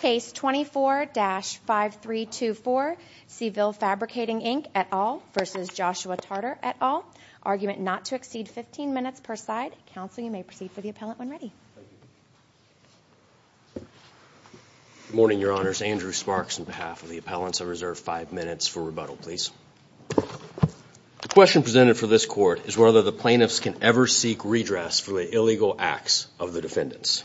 Case 24-5324, Seville Fabricating Inc, et al. v. Joshua Tarter, et al. Argument not to exceed 15 minutes per side. Counsel, you may proceed for the appellant when ready. Good morning, Your Honors. Andrew Sparks on behalf of the appellants. I reserve five minutes for rebuttal, please. The question presented for this court is whether the plaintiffs can ever seek redress for the illegal acts of the defendants.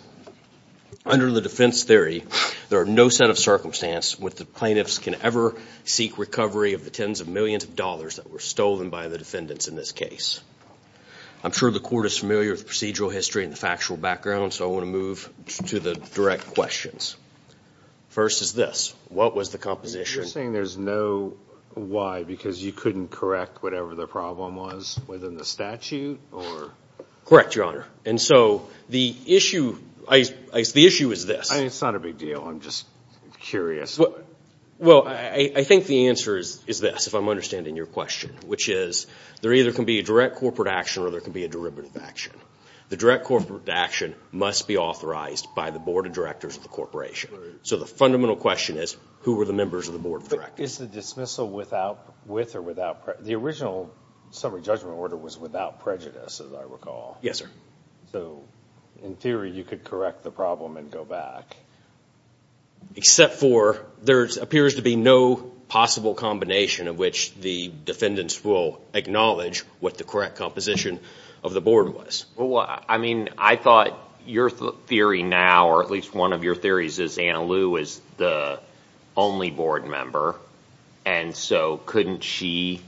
Under the defense theory, there are no set of circumstances where the plaintiffs can ever seek recovery of the tens of millions of dollars that were stolen by the defendants in this case. I'm sure the court is familiar with procedural history and the factual background, so I want to move to the direct questions. First is this. What was the composition? You're saying there's no why, because you couldn't correct whatever the problem was within the statute? Correct, Your Honor. And so the issue is this. It's not a big deal. I'm just curious. Well, I think the answer is this, if I'm understanding your question, which is there either can be a direct corporate action or there can be a derivative action. The direct corporate action must be authorized by the board of directors of the corporation. So the fundamental question is, who were the members of the board of directors? Is the dismissal with or without prejudice? The original summary judgment order was without prejudice, as I recall. Yes, sir. So, in theory, you could correct the problem and go back? Except for there appears to be no possible combination in which the defendants will acknowledge what the correct composition of the board was. I mean, I thought your theory now, or at least one of your theories, is Anna Liu is the only board member. And so couldn't she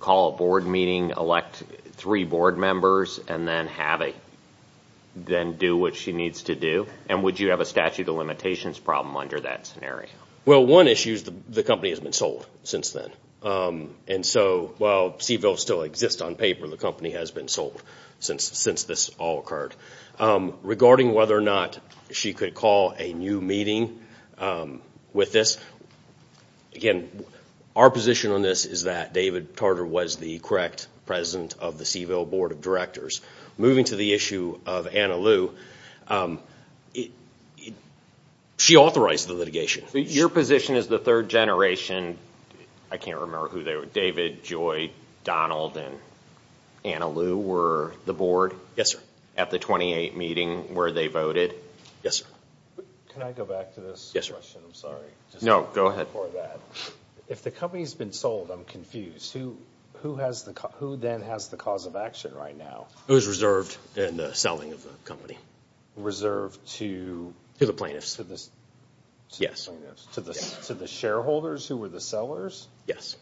call a board meeting, elect three board members, and then do what she needs to do? And would you have a statute of limitations problem under that scenario? Well, one issue is the company has been sold since then. And so, while Seville still exists on paper, the company has been sold since this all occurred. Regarding whether or not she could call a new meeting with this, again, our position on this is that David Tarter was the correct president of the Seville board of directors. Moving to the issue of Anna Liu, she authorized the litigation. Your position is the third generation. I can't remember who they were. David, Joy, Donald, and Anna Liu were the board? At the 28 meeting where they voted? Yes, sir. Can I go back to this question? Yes, sir. I'm sorry. No, go ahead. If the company's been sold, I'm confused. Who then has the cause of action right now? Who's reserved in the selling of the company? Reserved to? To the plaintiffs. Yes. To the shareholders who were the sellers? Yes.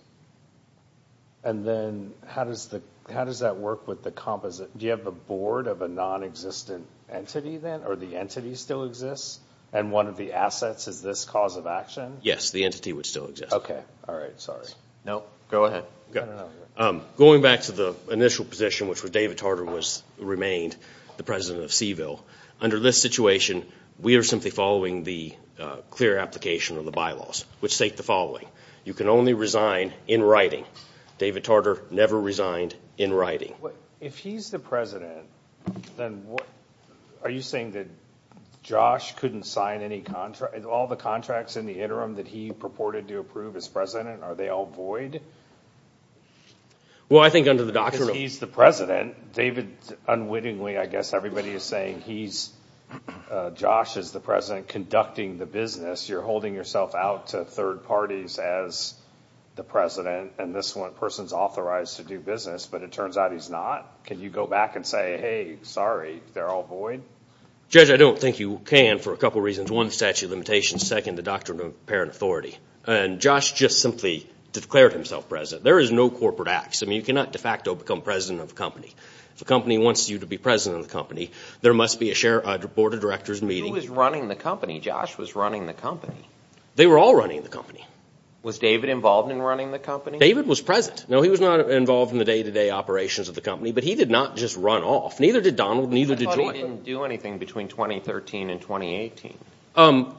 And then, how does that work with the composite? Do you have the board of a non-existent entity then? Or the entity still exists? And one of the assets is this cause of action? Yes, the entity would still exist. Okay. All right. Sorry. No, go ahead. Going back to the initial position, which was David Tarter remained the president of Seville. Under this situation, we are simply following the clear application of the bylaws, which state the following. You can only resign in writing. David Tarter never resigned in writing. If he's the president, then what... Are you saying that Josh couldn't sign any contract? All the contracts in the interim that he purported to approve as president, are they all void? Well, I think under the doctrine of... If he's the president, David unwittingly, I guess everybody is saying he's... Josh is the president conducting the business. You're holding yourself out to third parties as the president. And this one person's authorized to do business, but it turns out he's not. Can you go back and say, hey, sorry, they're all void? Judge, I don't think you can for a couple of reasons. One, statute of limitations. Second, the doctrine of apparent authority. And Josh just simply declared himself president. There is no corporate acts. I mean, you cannot de facto become president of a company. If a company wants you to be president of the company, there must be a board of directors meeting. Who was running the company? Josh was running the company. They were all running the company. Was David involved in running the company? David was present. No, he was not involved in the day-to-day operations of the company. But he did not just run off. Neither did Donald, neither did George. But you thought he didn't do anything between 2013 and 2018.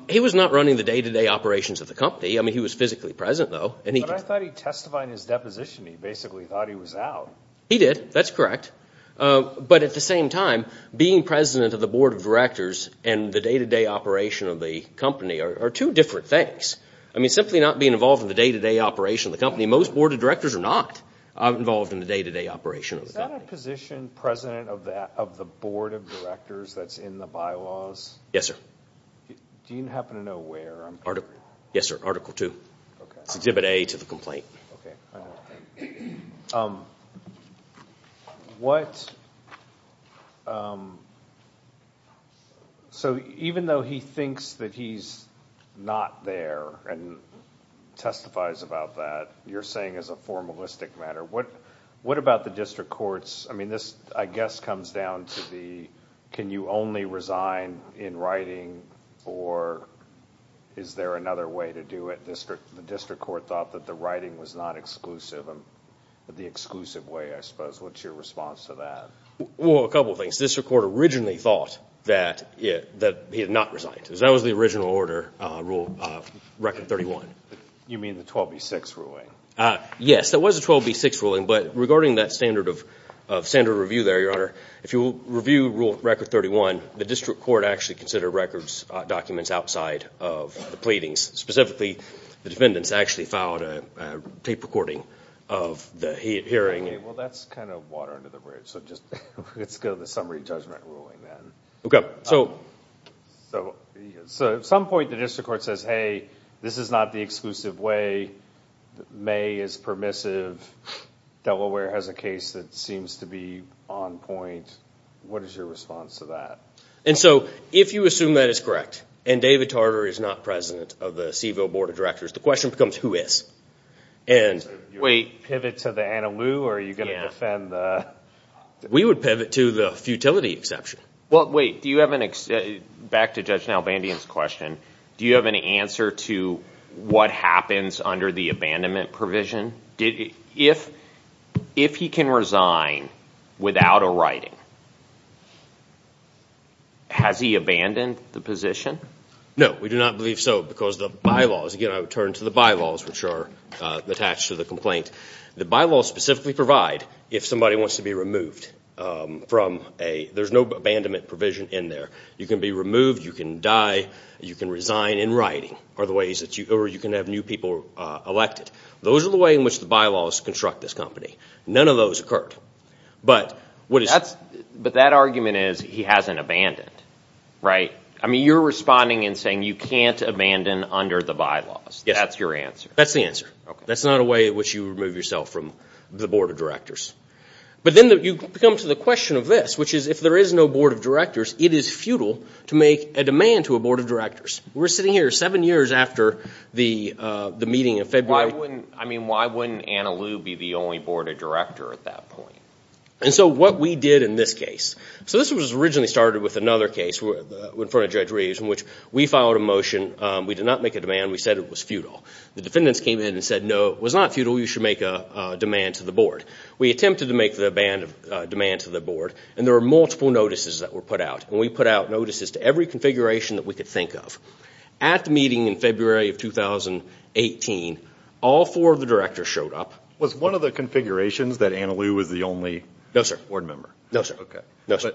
He was not running the day-to-day operations of the company. I mean, he was physically present, though. But I thought he testified in his deposition. He basically thought he was out. He did. That's correct. But at the same time, being president of the board of directors and the day-to-day operation of the company are two different things. I mean, simply not being involved in the day-to-day operation of the company. Most board of directors are not involved in the day-to-day operation of the company. Is that a position, president of the board of directors that's in the bylaws? Yes, sir. Do you happen to know where? Yes, sir. Article 2. It's exhibit A to the complaint. So even though he thinks that he's not there and testifies about that, you're saying as a formalistic matter. What about the district courts? I mean, this, I guess, comes down to the can you only resign in writing or is there another way to do it? The district court thought that the writing was not exclusive in the exclusive way, I suppose. What's your response to that? Well, a couple of things. The district court originally thought that he had not resigned. That was the original order, Record 31. You mean the 12B6 ruling? Yes, there was a 12B6 ruling. But regarding that standard of review there, Your Honor, if you review Record 31, the district court actually considered records, documents outside of the pleadings. Specifically, the defendants actually filed a tape recording of the hearing. Well, that's kind of water under the bridge. So let's go to the summary judgment ruling then. Okay. So at some point the district court says, hey, this is not the exclusive way. May is permissive. Delaware has a case that seems to be on point. What is your response to that? And so if you assume that it's correct and David Tarter is not president of the CVO Board of Directors, the question becomes who is? Wait. Pivot to the Anna Lou or are you going to defend the – We would pivot to the futility exception. Well, wait. Do you have an – back to Judge Nalbandian's question. Do you have an answer to what happens under the abandonment provision? If he can resign without a writing, has he abandoned the position? No. We do not believe so because the bylaws – again, I would turn to the bylaws which are attached to the complaint. The bylaws specifically provide if somebody wants to be removed from a – there's no abandonment provision in there. You can be removed, you can die, you can resign in writing or you can have new people elected. Those are the way in which the bylaws construct this company. None of those occurred. But what is – But that argument is he hasn't abandoned, right? I mean, you're responding and saying you can't abandon under the bylaws. That's your answer. That's the answer. That's not a way in which you remove yourself from the Board of Directors. But then you come to the question of this, which is if there is no Board of Directors, it is futile to make a demand to a Board of Directors. We're sitting here seven years after the meeting in February. I mean, why wouldn't Anna Liu be the only Board of Director at that point? And so what we did in this case – so this was originally started with another case in front of Judge Reeves in which we filed a motion. We did not make a demand. We said it was futile. The defendants came in and said, no, it was not futile. You should make a demand to the Board. We attempted to make the demand to the Board, and there were multiple notices that were put out. When we put out notices to every configuration that we could think of, at the meeting in February of 2018, all four of the directors showed up. Was one of the configurations that Anna Liu was the only Board member? No, sir. No, sir.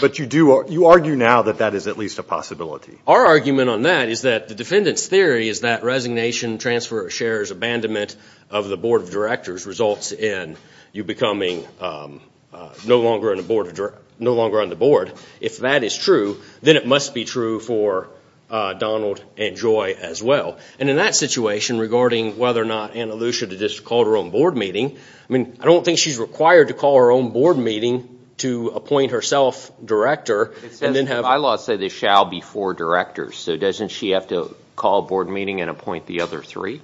But you argue now that that is at least a possibility. Our argument on that is that the defendants' theory is that resignation, transfer of shares, abandonment of the Board of Directors results in you becoming no longer on the Board. If that is true, then it must be true for Donald and Joy as well. And in that situation, regarding whether or not Anna Liu should have just called her own Board meeting, I mean, I don't think she's required to call her own Board meeting to appoint herself Director and then have – It says the bylaws say there shall be four directors. So doesn't she have to call a Board meeting and appoint the other three?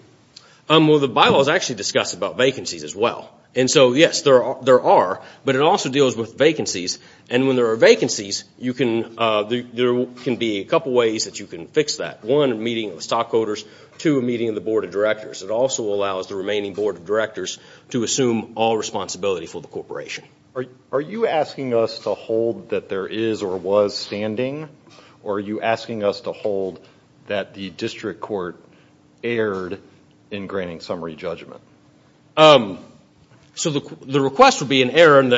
Well, the bylaws actually discuss about vacancies as well. And so, yes, there are. But it also deals with vacancies. And when there are vacancies, there can be a couple ways that you can fix that. One, a meeting of the stockholders. Two, a meeting of the Board of Directors. It also allows the remaining Board of Directors to assume all responsibility for the corporation. Are you asking us to hold that there is or was standing? Or are you asking us to hold that the district court erred in granting summary judgment? So the request would be an error in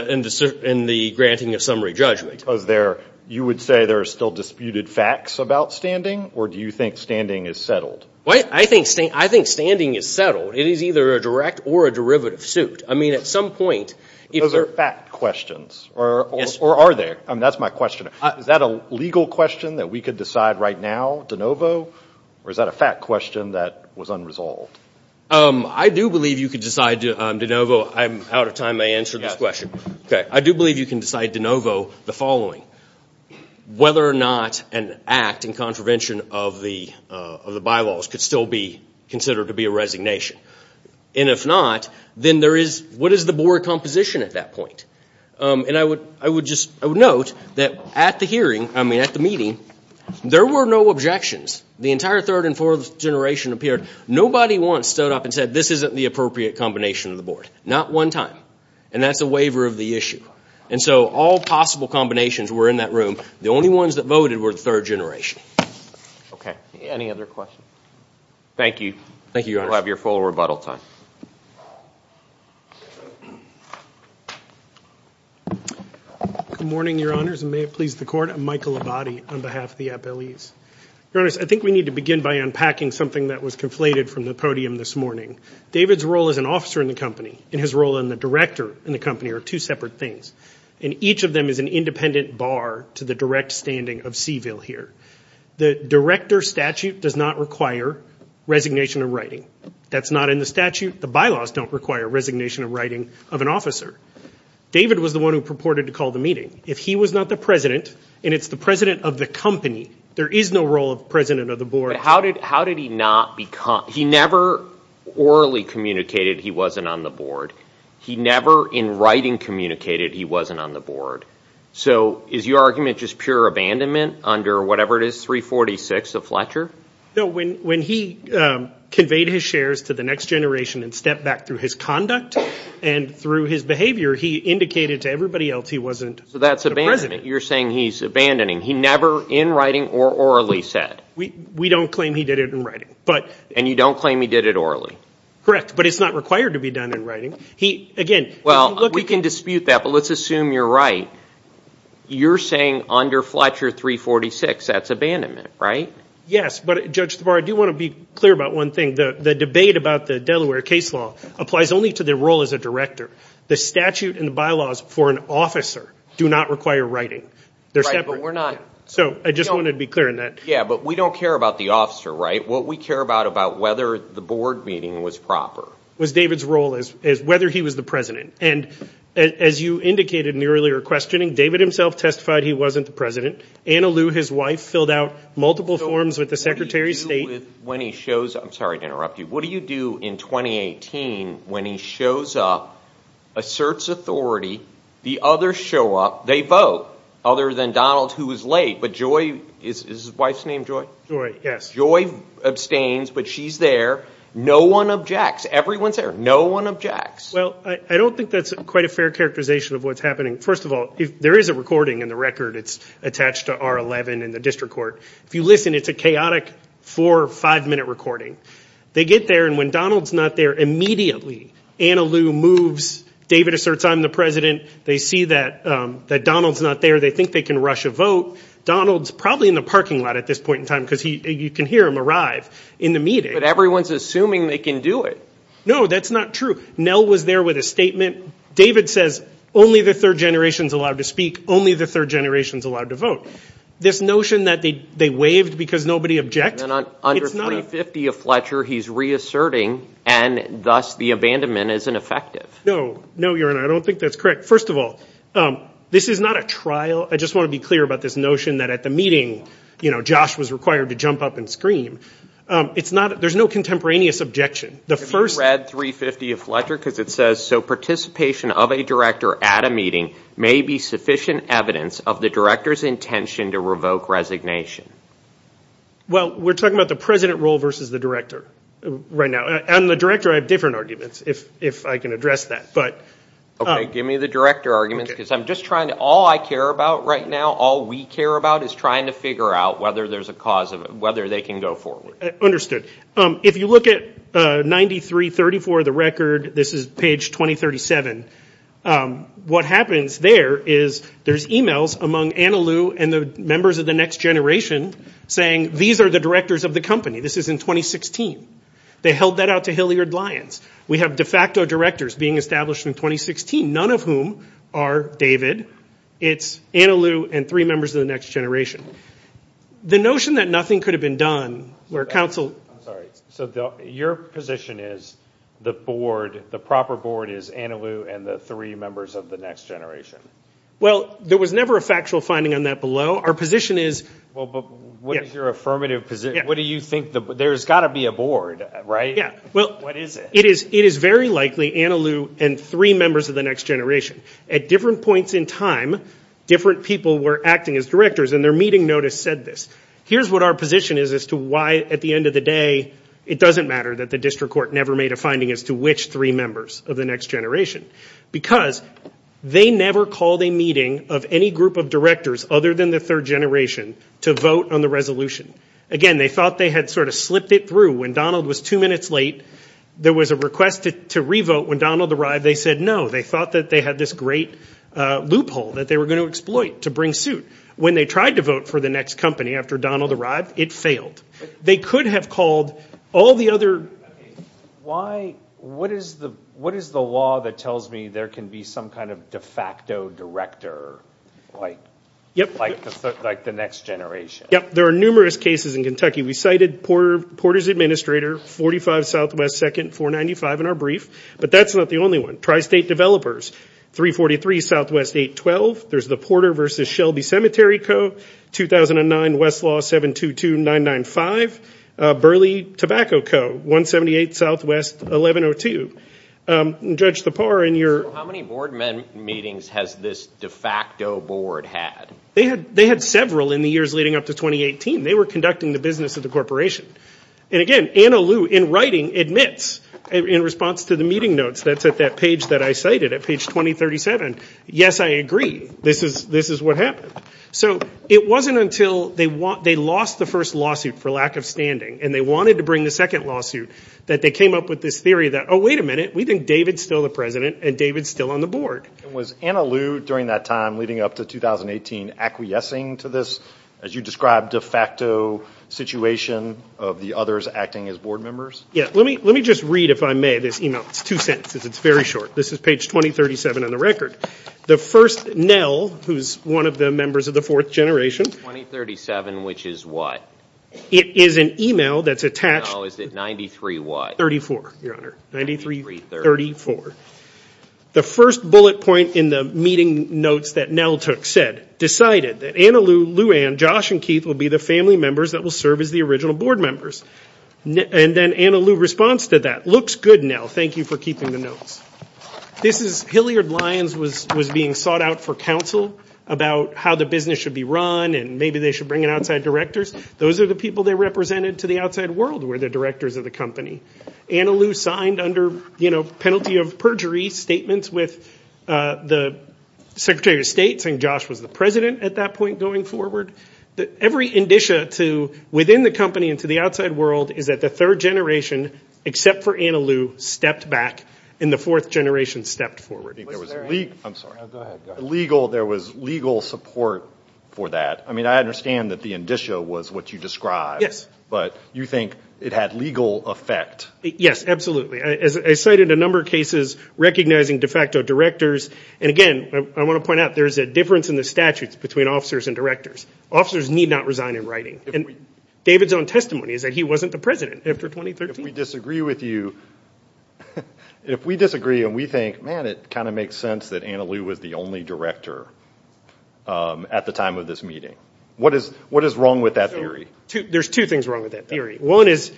the granting of summary judgment. Because you would say there are still disputed facts about standing? Or do you think standing is settled? I think standing is settled. It is either a direct or a derivative suit. I mean, at some point – Those are fact questions. Or are they? I mean, that's my question. Is that a legal question that we could decide right now, de novo? Or is that a fact question that was unresolved? I do believe you could decide, de novo. I'm out of time. I answered this question. I do believe you can decide, de novo, the following. Whether or not an act in contravention of the bylaws could still be considered to be a resignation. And if not, then what is the Board composition at that point? And I would note that at the meeting, there were no objections. The entire third and fourth generation appeared. Nobody once stood up and said, this isn't the appropriate combination of the Board. Not one time. And that's a waiver of the issue. And so all possible combinations were in that room. The only ones that voted were the third generation. Okay. Any other questions? Thank you. Thank you, Your Honor. You'll have your full rebuttal time. Good morning, Your Honors, and may it please the Court. I'm Michael Labate on behalf of the FLEs. Your Honors, I think we need to begin by unpacking something that was conflated from the podium this morning. David's role as an officer in the company and his role in the director in the company are two separate things. And each of them is an independent bar to the direct standing of Seville here. The director statute does not require resignation of writing. That's not in the statute. The bylaws don't require resignation of writing of an officer. David was the one who purported to call the meeting. If he was not the president, and it's the president of the company, there is no role of president of the board. But how did he not become – he never orally communicated he wasn't on the board. He never in writing communicated he wasn't on the board. So is your argument just pure abandonment under whatever it is, 346 of Fletcher? No, when he conveyed his shares to the next generation and stepped back through his conduct and through his behavior, he indicated to everybody else he wasn't. So that's abandonment. You're saying he's abandoning. He never in writing or orally said. We don't claim he did it in writing. And you don't claim he did it orally? Correct. But it's not required to be done in writing. Well, we can dispute that, but let's assume you're right. You're saying under Fletcher 346, that's abandonment, right? Yes, but Judge Tabar, I do want to be clear about one thing. The debate about the Delaware case law applies only to the role as a director. The statute and the bylaws for an officer do not require writing. They're separate. Right, but we're not. So I just wanted to be clear on that. Yeah, but we don't care about the officer, right? What we care about, about whether the board meeting was proper. Was David's role as whether he was the president. And as you indicated in the earlier questioning, David himself testified he wasn't the president. Anna Liu, his wife, filled out multiple forms with the Secretary of State. What do you do when he shows up? I'm sorry to interrupt you. What do you do in 2018 when he shows up, asserts authority, the others show up, they vote. Other than Donald, who was late. But Joy, is his wife's name Joy? Joy, yes. Joy abstains, but she's there. No one objects. Everyone's there. No one objects. Well, I don't think that's quite a fair characterization of what's happening. First of all, there is a recording in the record. It's attached to R11 in the district court. If you listen, it's a chaotic four or five minute recording. They get there, and when Donald's not there, immediately Anna Liu moves. David asserts, I'm the president. They see that Donald's not there. They think they can rush a vote. Donald's probably in the parking lot at this point in time, because you can hear him arrive in the meeting. But everyone's assuming they can do it. No, that's not true. Nell was there with a statement. David says, only the third generation's allowed to speak. Only the third generation's allowed to vote. This notion that they waved because nobody objected. Under 350 of Fletcher, he's reasserting, and thus the abandonment isn't effective. No, Your Honor. I don't think that's correct. First of all, this is not a trial. I just want to be clear about this notion that at the meeting, Josh was required to jump up and scream. There's no contemporaneous objection. Have you read 350 of Fletcher? Because it says, so participation of a director at a meeting may be sufficient evidence of the director's intention to revoke resignation. Well, we're talking about the president role versus the director right now. And the director, I have different arguments, if I can address that. Okay, give me the director argument, because I'm just trying to, all I care about right now, all we care about, is trying to figure out whether there's a cause of it. Whether they can go forward. Understood. If you look at 9334, the record, this is page 2037. What happens there is there's emails among Anna Lou and the members of the Next Generation saying, these are the directors of the company. This is in 2016. They held that out to Hilliard Lyons. We have de facto directors being established in 2016, none of whom are David. It's Anna Lou and three members of the Next Generation. The notion that nothing could have been done, where counsel... I'm sorry, so your position is the board, the proper board is Anna Lou and the three members of the Next Generation. Well, there was never a factual finding on that below. Our position is... Well, but what is your affirmative position? What do you think, there's got to be a board, right? Yeah, well... What is it? It is very likely Anna Lou and three members of the Next Generation. At different points in time, different people were acting as directors and their meeting notice said this. Here's what our position is as to why, at the end of the day, it doesn't matter that the district court never made a finding as to which three members of the Next Generation. Because they never called a meeting of any group of directors other than the third generation to vote on the resolution. Again, they thought they had sort of slipped it through. When Donald was two minutes late, there was a request to re-vote. When Donald arrived, they said no. They thought that they had this great loophole that they were going to exploit to bring suit. When they tried to vote for the next company after Donald arrived, it failed. They could have called all the other... Why... What is the law that tells me there can be some kind of de facto director like the Next Generation? Yep, there are numerous cases in Kentucky. We cited Porter's administrator, 45 Southwest, 2nd, 495 in our brief. But that's not the only one. Tri-state developers, 343 Southwest, 812. There's the Porter v. Shelby Cemetery Co., 2009, Westlaw, 722, 995. Burley Tobacco Co., 178 Southwest, 1102. Judge Thapar, in your... How many board meetings has this de facto board had? They had several in the years leading up to 2018. They were conducting the business of the corporation. And again, Anna Liu, in writing, admits, in response to the meeting notes that's at that page that I cited, at page 2037, yes, I agree, this is what happened. So it wasn't until they lost the first lawsuit for lack of standing, and they wanted to bring the second lawsuit, that they came up with this theory that, oh, wait a minute, we think David's still the president, and David's still on the board. And was Anna Liu, during that time, leading up to 2018, acquiescing to this, as you described, de facto situation of the others acting as board members? Yeah. Let me just read, if I may, this email. It's two sentences. It's very short. This is page 2037 on the record. The first NEL, who's one of the members of the fourth generation... 2037, which is what? It is an email that's attached... No, is it 93 what? 34, Your Honor. 93-34. The first bullet point in the meeting notes that NEL took said, decided that Anna Liu, Lou Ann, Josh, and Keith will be the family members that will serve as the original board members. And then Anna Liu responds to that. Looks good, NEL. Thank you for keeping the notes. This is... Hilliard Lyons was being sought out for counsel about how the business should be run, and maybe they should bring in outside directors. Those are the people they represented to the outside world were the directors of the company. Anna Liu signed under penalty of perjury statements with the Secretary of State, saying Josh was the president at that point going forward. Every indicia to within the company and to the outside world is that the third generation, except for Anna Liu, stepped back, and the fourth generation stepped forward. There was legal support for that. I mean, I understand that the indicia was what you described, but you think it had legal effect. Yes, absolutely. I cited a number of cases recognizing de facto directors. And again, I want to point out there's a difference in the statutes between officers and directors. Officers need not resign in writing. And David's own testimony is that he wasn't the president after 2013. If we disagree with you, if we disagree and we think, man, it kind of makes sense that Anna Liu was the only director at the time of this meeting. What is wrong with that theory? There's two things wrong with that theory. One is,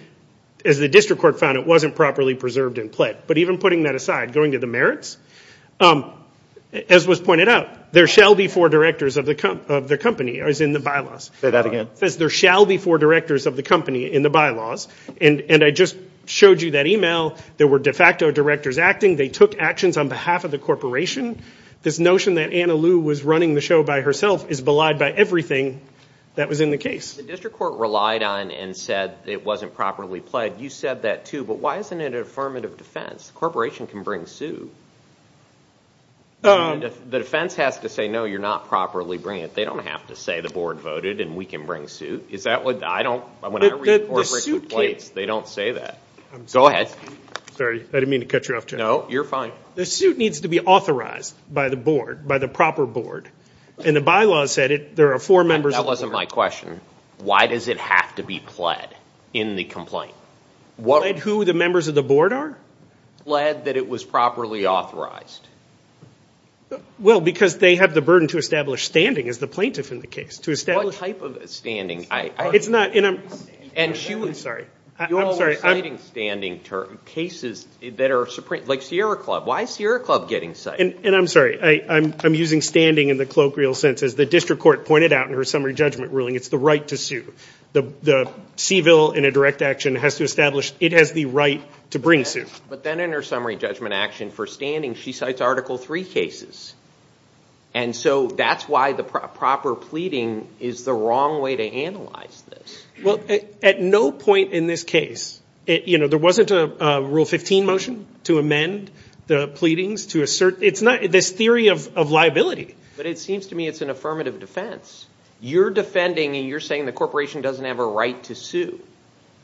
as the district court found, it wasn't properly preserved and pled. But even putting that aside, going to the merits, as was pointed out, there shall be four directors of the company, as in the bylaws. Say that again. There shall be four directors of the company in the bylaws. And I just showed you that email. There were de facto directors acting. They took actions on behalf of the corporation. This notion that Anna Liu was running the show by herself is belied by everything that was in the case. The district court relied on and said it wasn't properly pled. You said that too. But why isn't it an affirmative defense? The corporation can bring suit. The defense has to say, no, you're not properly bringing it. They don't have to say the board voted and we can bring suit. Is that what I don't, when I read corporate complaints, they don't say that. Go ahead. Sorry, I didn't mean to cut you off, Jeff. No, you're fine. The suit needs to be authorized by the board, by the proper board. And the bylaws said there are four members of the board. To answer my question, why does it have to be pled in the complaint? Pled who the members of the board are? Pled that it was properly authorized. Well, because they have the burden to establish standing as the plaintiff in the case. What type of standing? It's not, and I'm, I'm sorry. You all are citing standing cases that are, like Sierra Club. Why is Sierra Club getting cited? And I'm sorry, I'm using standing in the colloquial sense. As the district court pointed out in her summary judgment ruling, it's the right to sue. The CVIL in a direct action has to establish it has the right to bring suit. But then in her summary judgment action for standing, she cites Article 3 cases. And so that's why the proper pleading is the wrong way to analyze this. Well, at no point in this case, you know, there wasn't a Rule 15 motion to amend the pleadings. To assert, it's not, this theory of liability. But it seems to me it's an affirmative defense. You're defending and you're saying the corporation doesn't have a right to sue.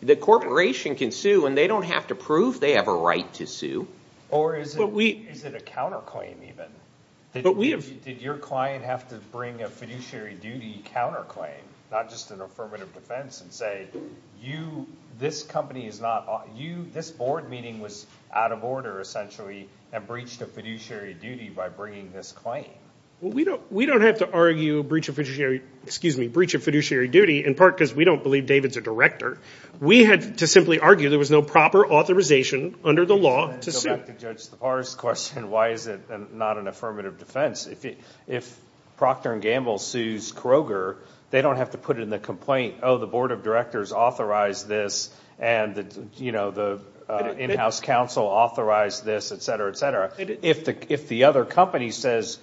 The corporation can sue and they don't have to prove they have a right to sue. Or is it a counterclaim even? Did your client have to bring a fiduciary duty counterclaim? Not just an affirmative defense and say, you, this company is not, you, this board meeting was out of order essentially. And breached a fiduciary duty by bringing this claim. We don't have to argue breach of fiduciary, excuse me, breach of fiduciary duty in part because we don't believe David's a director. We had to simply argue there was no proper authorization under the law to sue. To go back to Judge Tappara's question, why is it not an affirmative defense? If Procter & Gamble sues Kroger, they don't have to put it in the complaint. Oh, the board of directors authorized this and, you know, the in-house counsel authorized this, etc., etc. If the other company says,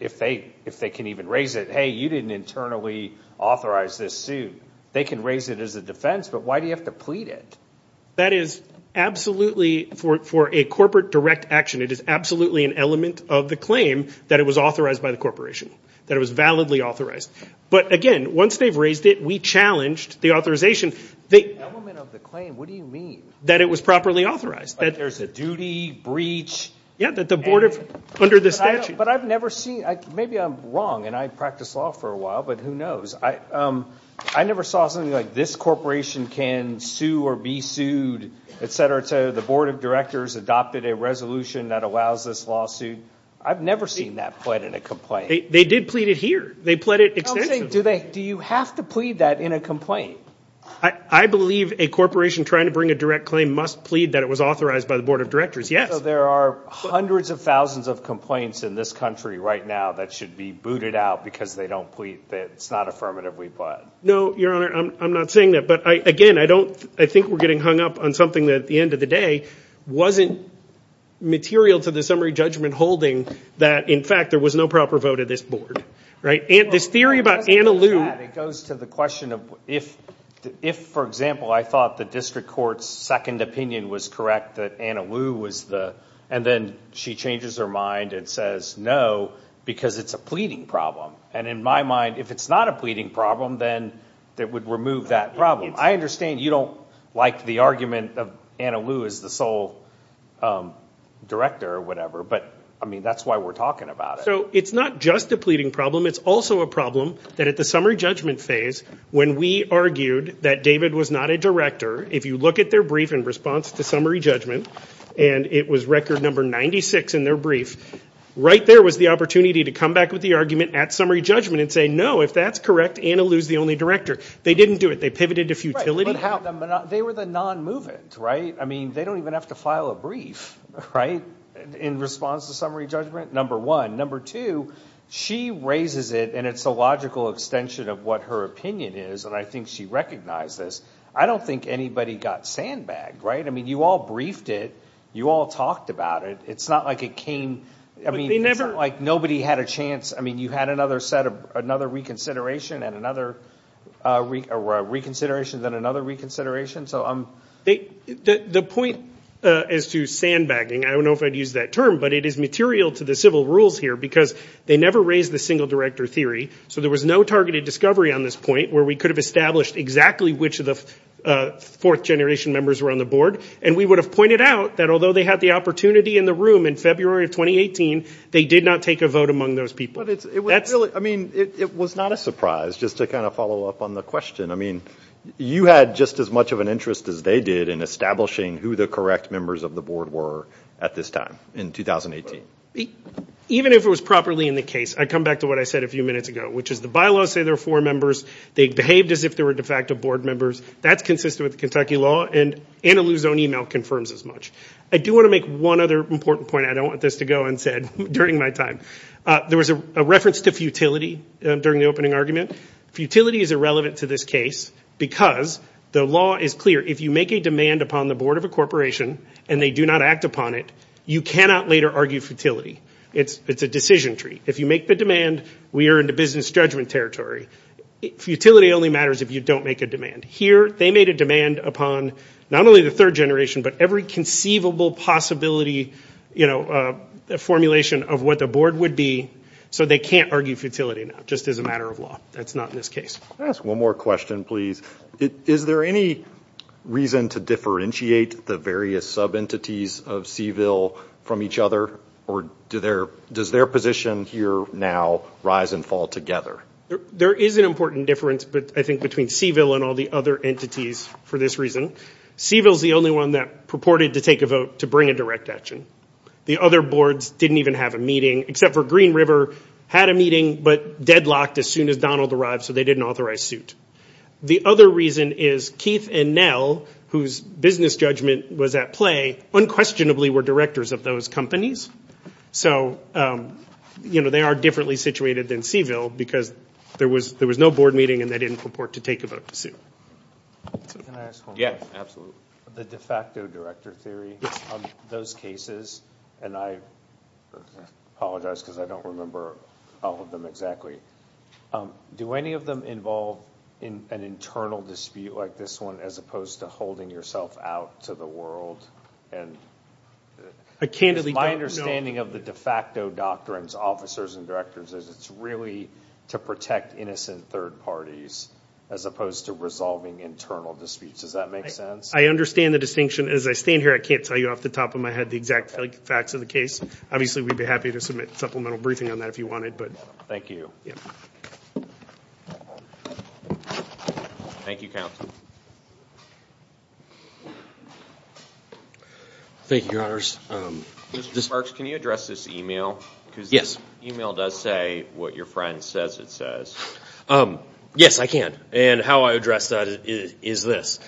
if they can even raise it, hey, you didn't internally authorize this suit, they can raise it as a defense, but why do you have to plead it? That is absolutely, for a corporate direct action, it is absolutely an element of the claim that it was authorized by the corporation. That it was validly authorized. But again, once they've raised it, we challenged the authorization. Element of the claim, what do you mean? That it was properly authorized. There's a duty, breach. Yeah, that the board of, under the statute. But I've never seen, maybe I'm wrong and I practiced law for a while, but who knows. I never saw something like this corporation can sue or be sued, etc., etc. The board of directors adopted a resolution that allows this lawsuit. I've never seen that pled in a complaint. They did plead it here. They pled it extensively. Do you have to plead that in a complaint? I believe a corporation trying to bring a direct claim must plead that it was authorized by the board of directors, yes. So there are hundreds of thousands of complaints in this country right now that should be booted out because they don't plead that it's not affirmatively pled. No, your honor, I'm not saying that. But again, I don't, I think we're getting hung up on something that at the end of the day wasn't material to the summary judgment holding that in fact there was no proper vote of this board. Right? This theory about Anna Lou. It goes to the question of if, for example, I thought the district court's second opinion was correct that Anna Lou was the, and then she changes her mind and says no because it's a pleading problem. And in my mind, if it's not a pleading problem, then that would remove that problem. I understand you don't like the argument of Anna Lou as the sole director or whatever, but I mean that's why we're talking about it. So it's not just a pleading problem. It's also a problem that at the summary judgment phase when we argued that David was not a director, if you look at their brief in response to summary judgment and it was record number 96 in their brief, right there was the opportunity to come back with the argument at summary judgment and say no, if that's correct, Anna Lou's the only director. They didn't do it. They pivoted to futility. But how, they were the non-movement, right? I mean, they don't even have to file a brief, right, in response to summary judgment, number one. Number two, she raises it and it's a logical extension of what her opinion is and I think she recognized this. I don't think anybody got sandbagged, right? I mean, you all briefed it. You all talked about it. It's not like it came, I mean, it's not like nobody had a chance. I mean, you had another set of, another reconsideration and another reconsideration, then another reconsideration. The point as to sandbagging, I don't know if I'd use that term, but it is material to the civil rules here because they never raised the single director theory. So there was no targeted discovery on this point where we could have established exactly which of the fourth generation members were on the board and we would have pointed out that although they had the opportunity in the room in February of 2018, they did not take a vote among those people. I mean, it was not a surprise, just to kind of follow up on the question. I mean, you had just as much of an interest as they did in establishing who the correct members of the board were at this time in 2018. Even if it was properly in the case, I come back to what I said a few minutes ago, which is the bylaws say there are four members. They behaved as if there were de facto board members. That's consistent with Kentucky law and Anna Lou's own email confirms as much. I do want to make one other important point. I don't want this to go unsaid during my time. There was a reference to futility during the opening argument. Futility is irrelevant to this case because the law is clear. If you make a demand upon the board of a corporation and they do not act upon it, you cannot later argue futility. It's a decision tree. If you make the demand, we are in the business judgment territory. Futility only matters if you don't make a demand. Here, they made a demand upon not only the third generation, but every conceivable possibility formulation of what the board would be, so they can't argue futility now, just as a matter of law. That's not in this case. I'll ask one more question, please. Is there any reason to differentiate the various sub-entities of CVIL from each other? Or does their position here now rise and fall together? There is an important difference, I think, between CVIL and all the other entities for this reason. CVIL is the only one that purported to take a vote to bring a direct action. The other boards didn't even have a meeting, except for Green River had a meeting, but deadlocked as soon as Donald arrived, so they didn't authorize suit. The other reason is Keith and Nell, whose business judgment was at play, unquestionably were directors of those companies. So, you know, they are differently situated than CVIL, because there was no board meeting and they didn't purport to take a vote to sue. Can I ask one more question? The de facto director theory of those cases, and I apologize because I don't remember all of them exactly, do any of them involve an internal dispute like this one, as opposed to holding yourself out to the world? My understanding of the de facto doctrines, officers and directors, is it's really to protect innocent third parties, as opposed to resolving internal disputes. Does that make sense? I understand the distinction. As I stand here, I can't tell you off the top of my head the exact facts of the case. Obviously, we'd be happy to submit a supplemental briefing on that if you wanted. Thank you. Thank you, Counselor. Thank you, Your Honors. Mr. Parks, can you address this email? Yes. Because this email does say what your friend says it says. Yes, I can. And how I address that is this.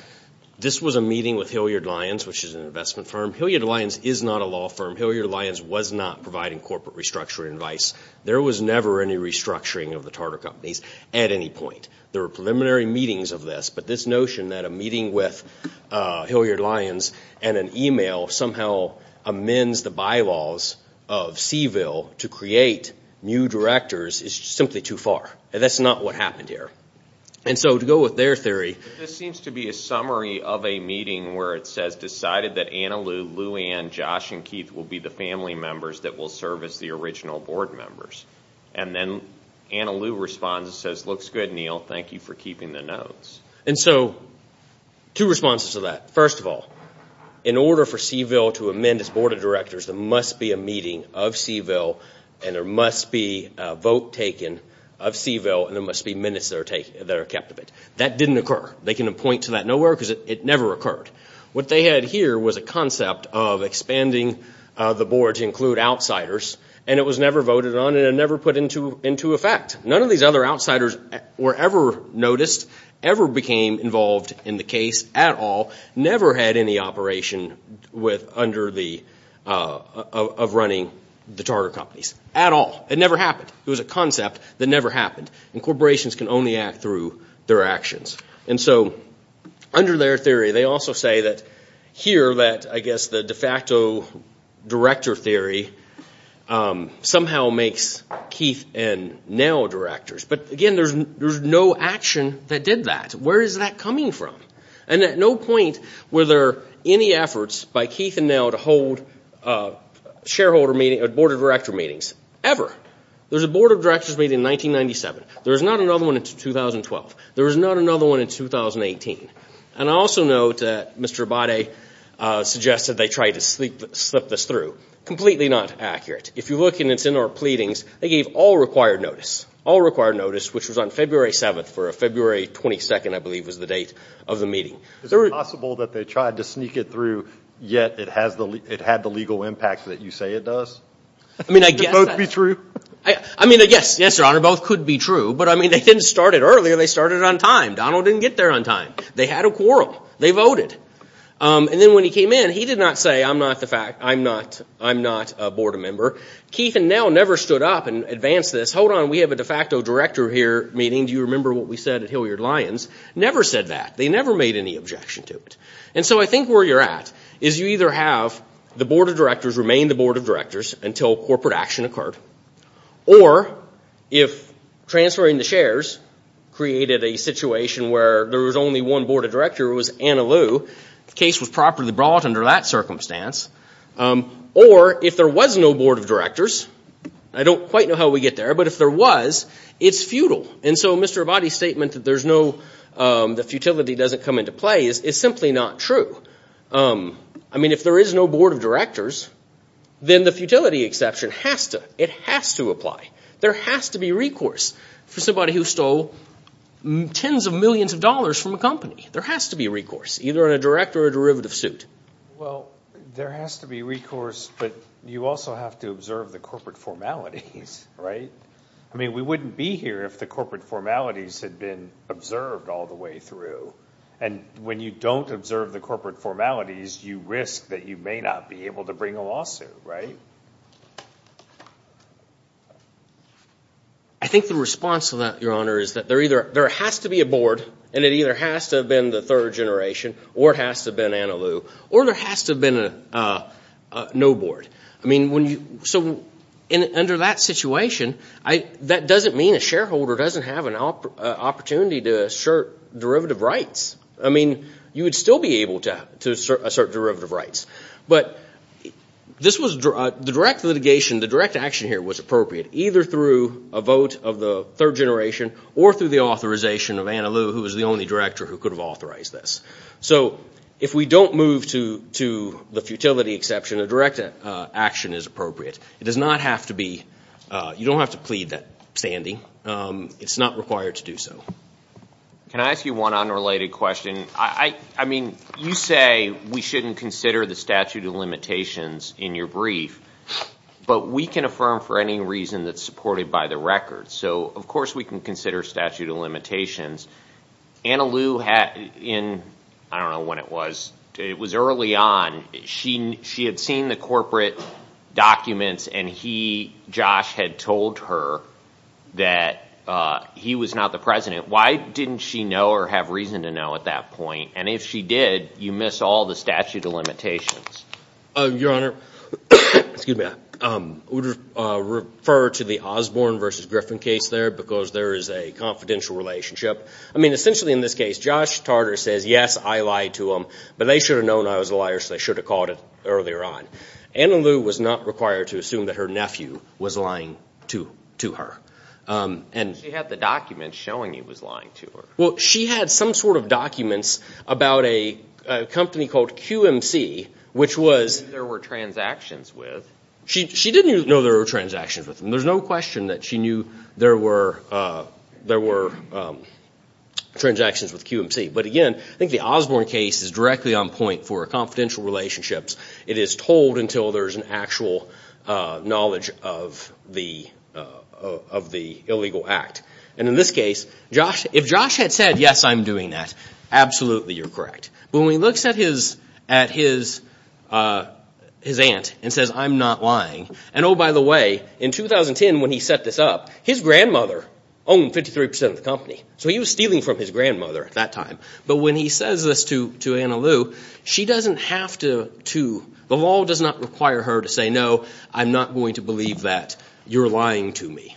This was a meeting with Hilliard-Lyons, which is an investment firm. Hilliard-Lyons is not a law firm. Hilliard-Lyons was not providing corporate restructuring advice. There was never any restructuring of the Tartar Companies at any point. There were preliminary meetings of this, but this notion that a meeting with Hilliard-Lyons and an email somehow amends the bylaws of Seville to create new directors is simply too far. That's not what happened here. And so to go with their theory. This seems to be a summary of a meeting where it says decided that Anna Lou, Lou Ann, Josh, and Keith will be the family members that will serve as the original board members. And then Anna Lou responds and says, looks good, Neil. Thank you for keeping the notes. And so two responses to that. First of all, in order for Seville to amend its board of directors, there must be a meeting of Seville, and there must be a vote taken of Seville, and there must be minutes that are kept of it. That didn't occur. They can point to that nowhere because it never occurred. What they had here was a concept of expanding the board to include outsiders, and it was never voted on, and it never put into effect. None of these other outsiders were ever noticed, ever became involved in the case at all, never had any operation of running the Tartar Companies. At all. It never happened. It was a concept that never happened. And corporations can only act through their actions. And so under their theory, they also say that here, that I guess the de facto director theory somehow makes Keith and Nell directors. But again, there's no action that did that. Where is that coming from? And at no point were there any efforts by Keith and Nell to hold a shareholder meeting, a board of director meetings, ever. There was a board of directors meeting in 1997. There was not another one in 2012. There was not another one in 2018. And I also note that Mr. Abate suggested they try to slip this through. Completely not accurate. If you look in its inner pleadings, they gave all required notice, all required notice, which was on February 7th for a February 22nd, I believe was the date of the meeting. Is it possible that they tried to sneak it through, yet it had the legal impact that you say it does? I mean, I guess... Could both be true? I mean, yes, yes, Your Honor, both could be true. But I mean, they didn't start it earlier. They started it on time. Donald didn't get there on time. They had a quarrel. They voted. And then when he came in, he did not say, I'm not the fact, I'm not a board member. Keith and Nell never stood up and advanced this. Hold on, we have a de facto director here meeting. Do you remember what we said at Hilliard-Lyons? Never said that. They never made any objection to it. And so I think where you're at is you either have the board of directors remain the board of directors until corporate action occurred, or if transferring the shares created a situation where there was only one board of director, it was Anna Lou, the case was properly brought under that circumstance, or if there was no board of directors, I don't quite know how we get there, but if there was, it's futile. And so Mr. Abadi's statement that there's no... that futility doesn't come into play is simply not true. I mean, if there is no board of directors, then the futility exception has to... it has to apply. There has to be recourse for somebody who stole tens of millions of dollars from a company. There has to be recourse, either in a direct or a derivative suit. Well, there has to be recourse, but you also have to observe the corporate formalities, right? I mean, we wouldn't be here if the corporate formalities had been observed all the way through. And when you don't observe the corporate formalities, you risk that you may not be able to bring a lawsuit, right? I think the response to that, Your Honor, is that there either... there has to be a board, and it either has to have been the third generation, or it has to have been Annaloo, or there has to have been a no board. I mean, when you... so under that situation, that doesn't mean a shareholder doesn't have an opportunity to assert derivative rights. I mean, you would still be able to assert derivative rights. But this was... the direct litigation, the direct action here was appropriate, either through a vote of the third generation, or through the authorization of Annaloo, who was the only director who could have authorized this. So if we don't move to the futility exception, a direct action is appropriate. It does not have to be... you don't have to plead that standing. It's not required to do so. Can I ask you one unrelated question? I mean, you say we shouldn't consider the statute of limitations in your brief, but we can affirm for any reason that's supported by the record. So of course we can consider statute of limitations. Annaloo had... I don't know when it was, it was early on, she had seen the corporate documents and he, Josh, had told her that he was not the president. Why didn't she know or have reason to know at that point? And if she did, you miss all the statute of limitations. Your Honor, excuse me, I would refer to the Osborne versus Griffin case there, because there is a confidential relationship. I mean, essentially in this case, Josh Tarter says, yes, I lied to him, but they should have known I was a liar, so they should have called it earlier on. Annaloo was not required to assume that her nephew was lying to her. She had the documents showing he was lying to her. Well, she had some sort of documents about a company called QMC, which was... She knew there were transactions with. She didn't know there were transactions with them. There's no question that she knew there were transactions with QMC. But again, I think the Osborne case is directly on point for confidential relationships. It is told until there's an actual knowledge of the illegal act. And in this case, if Josh had said, yes, I'm doing that, absolutely you're correct. But when he looks at his aunt and says, I'm not lying. And oh, by the way, in 2010 when he set this up, his grandmother owned 53% of the company. So he was stealing from his grandmother at that time. But when he says this to Annaloo, she doesn't have to... The law does not require her to say, no, I'm not going to believe that. You're lying to me.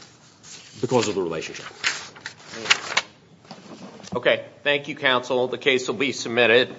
Because of the relationship. Okay. Thank you, counsel. The case will be submitted.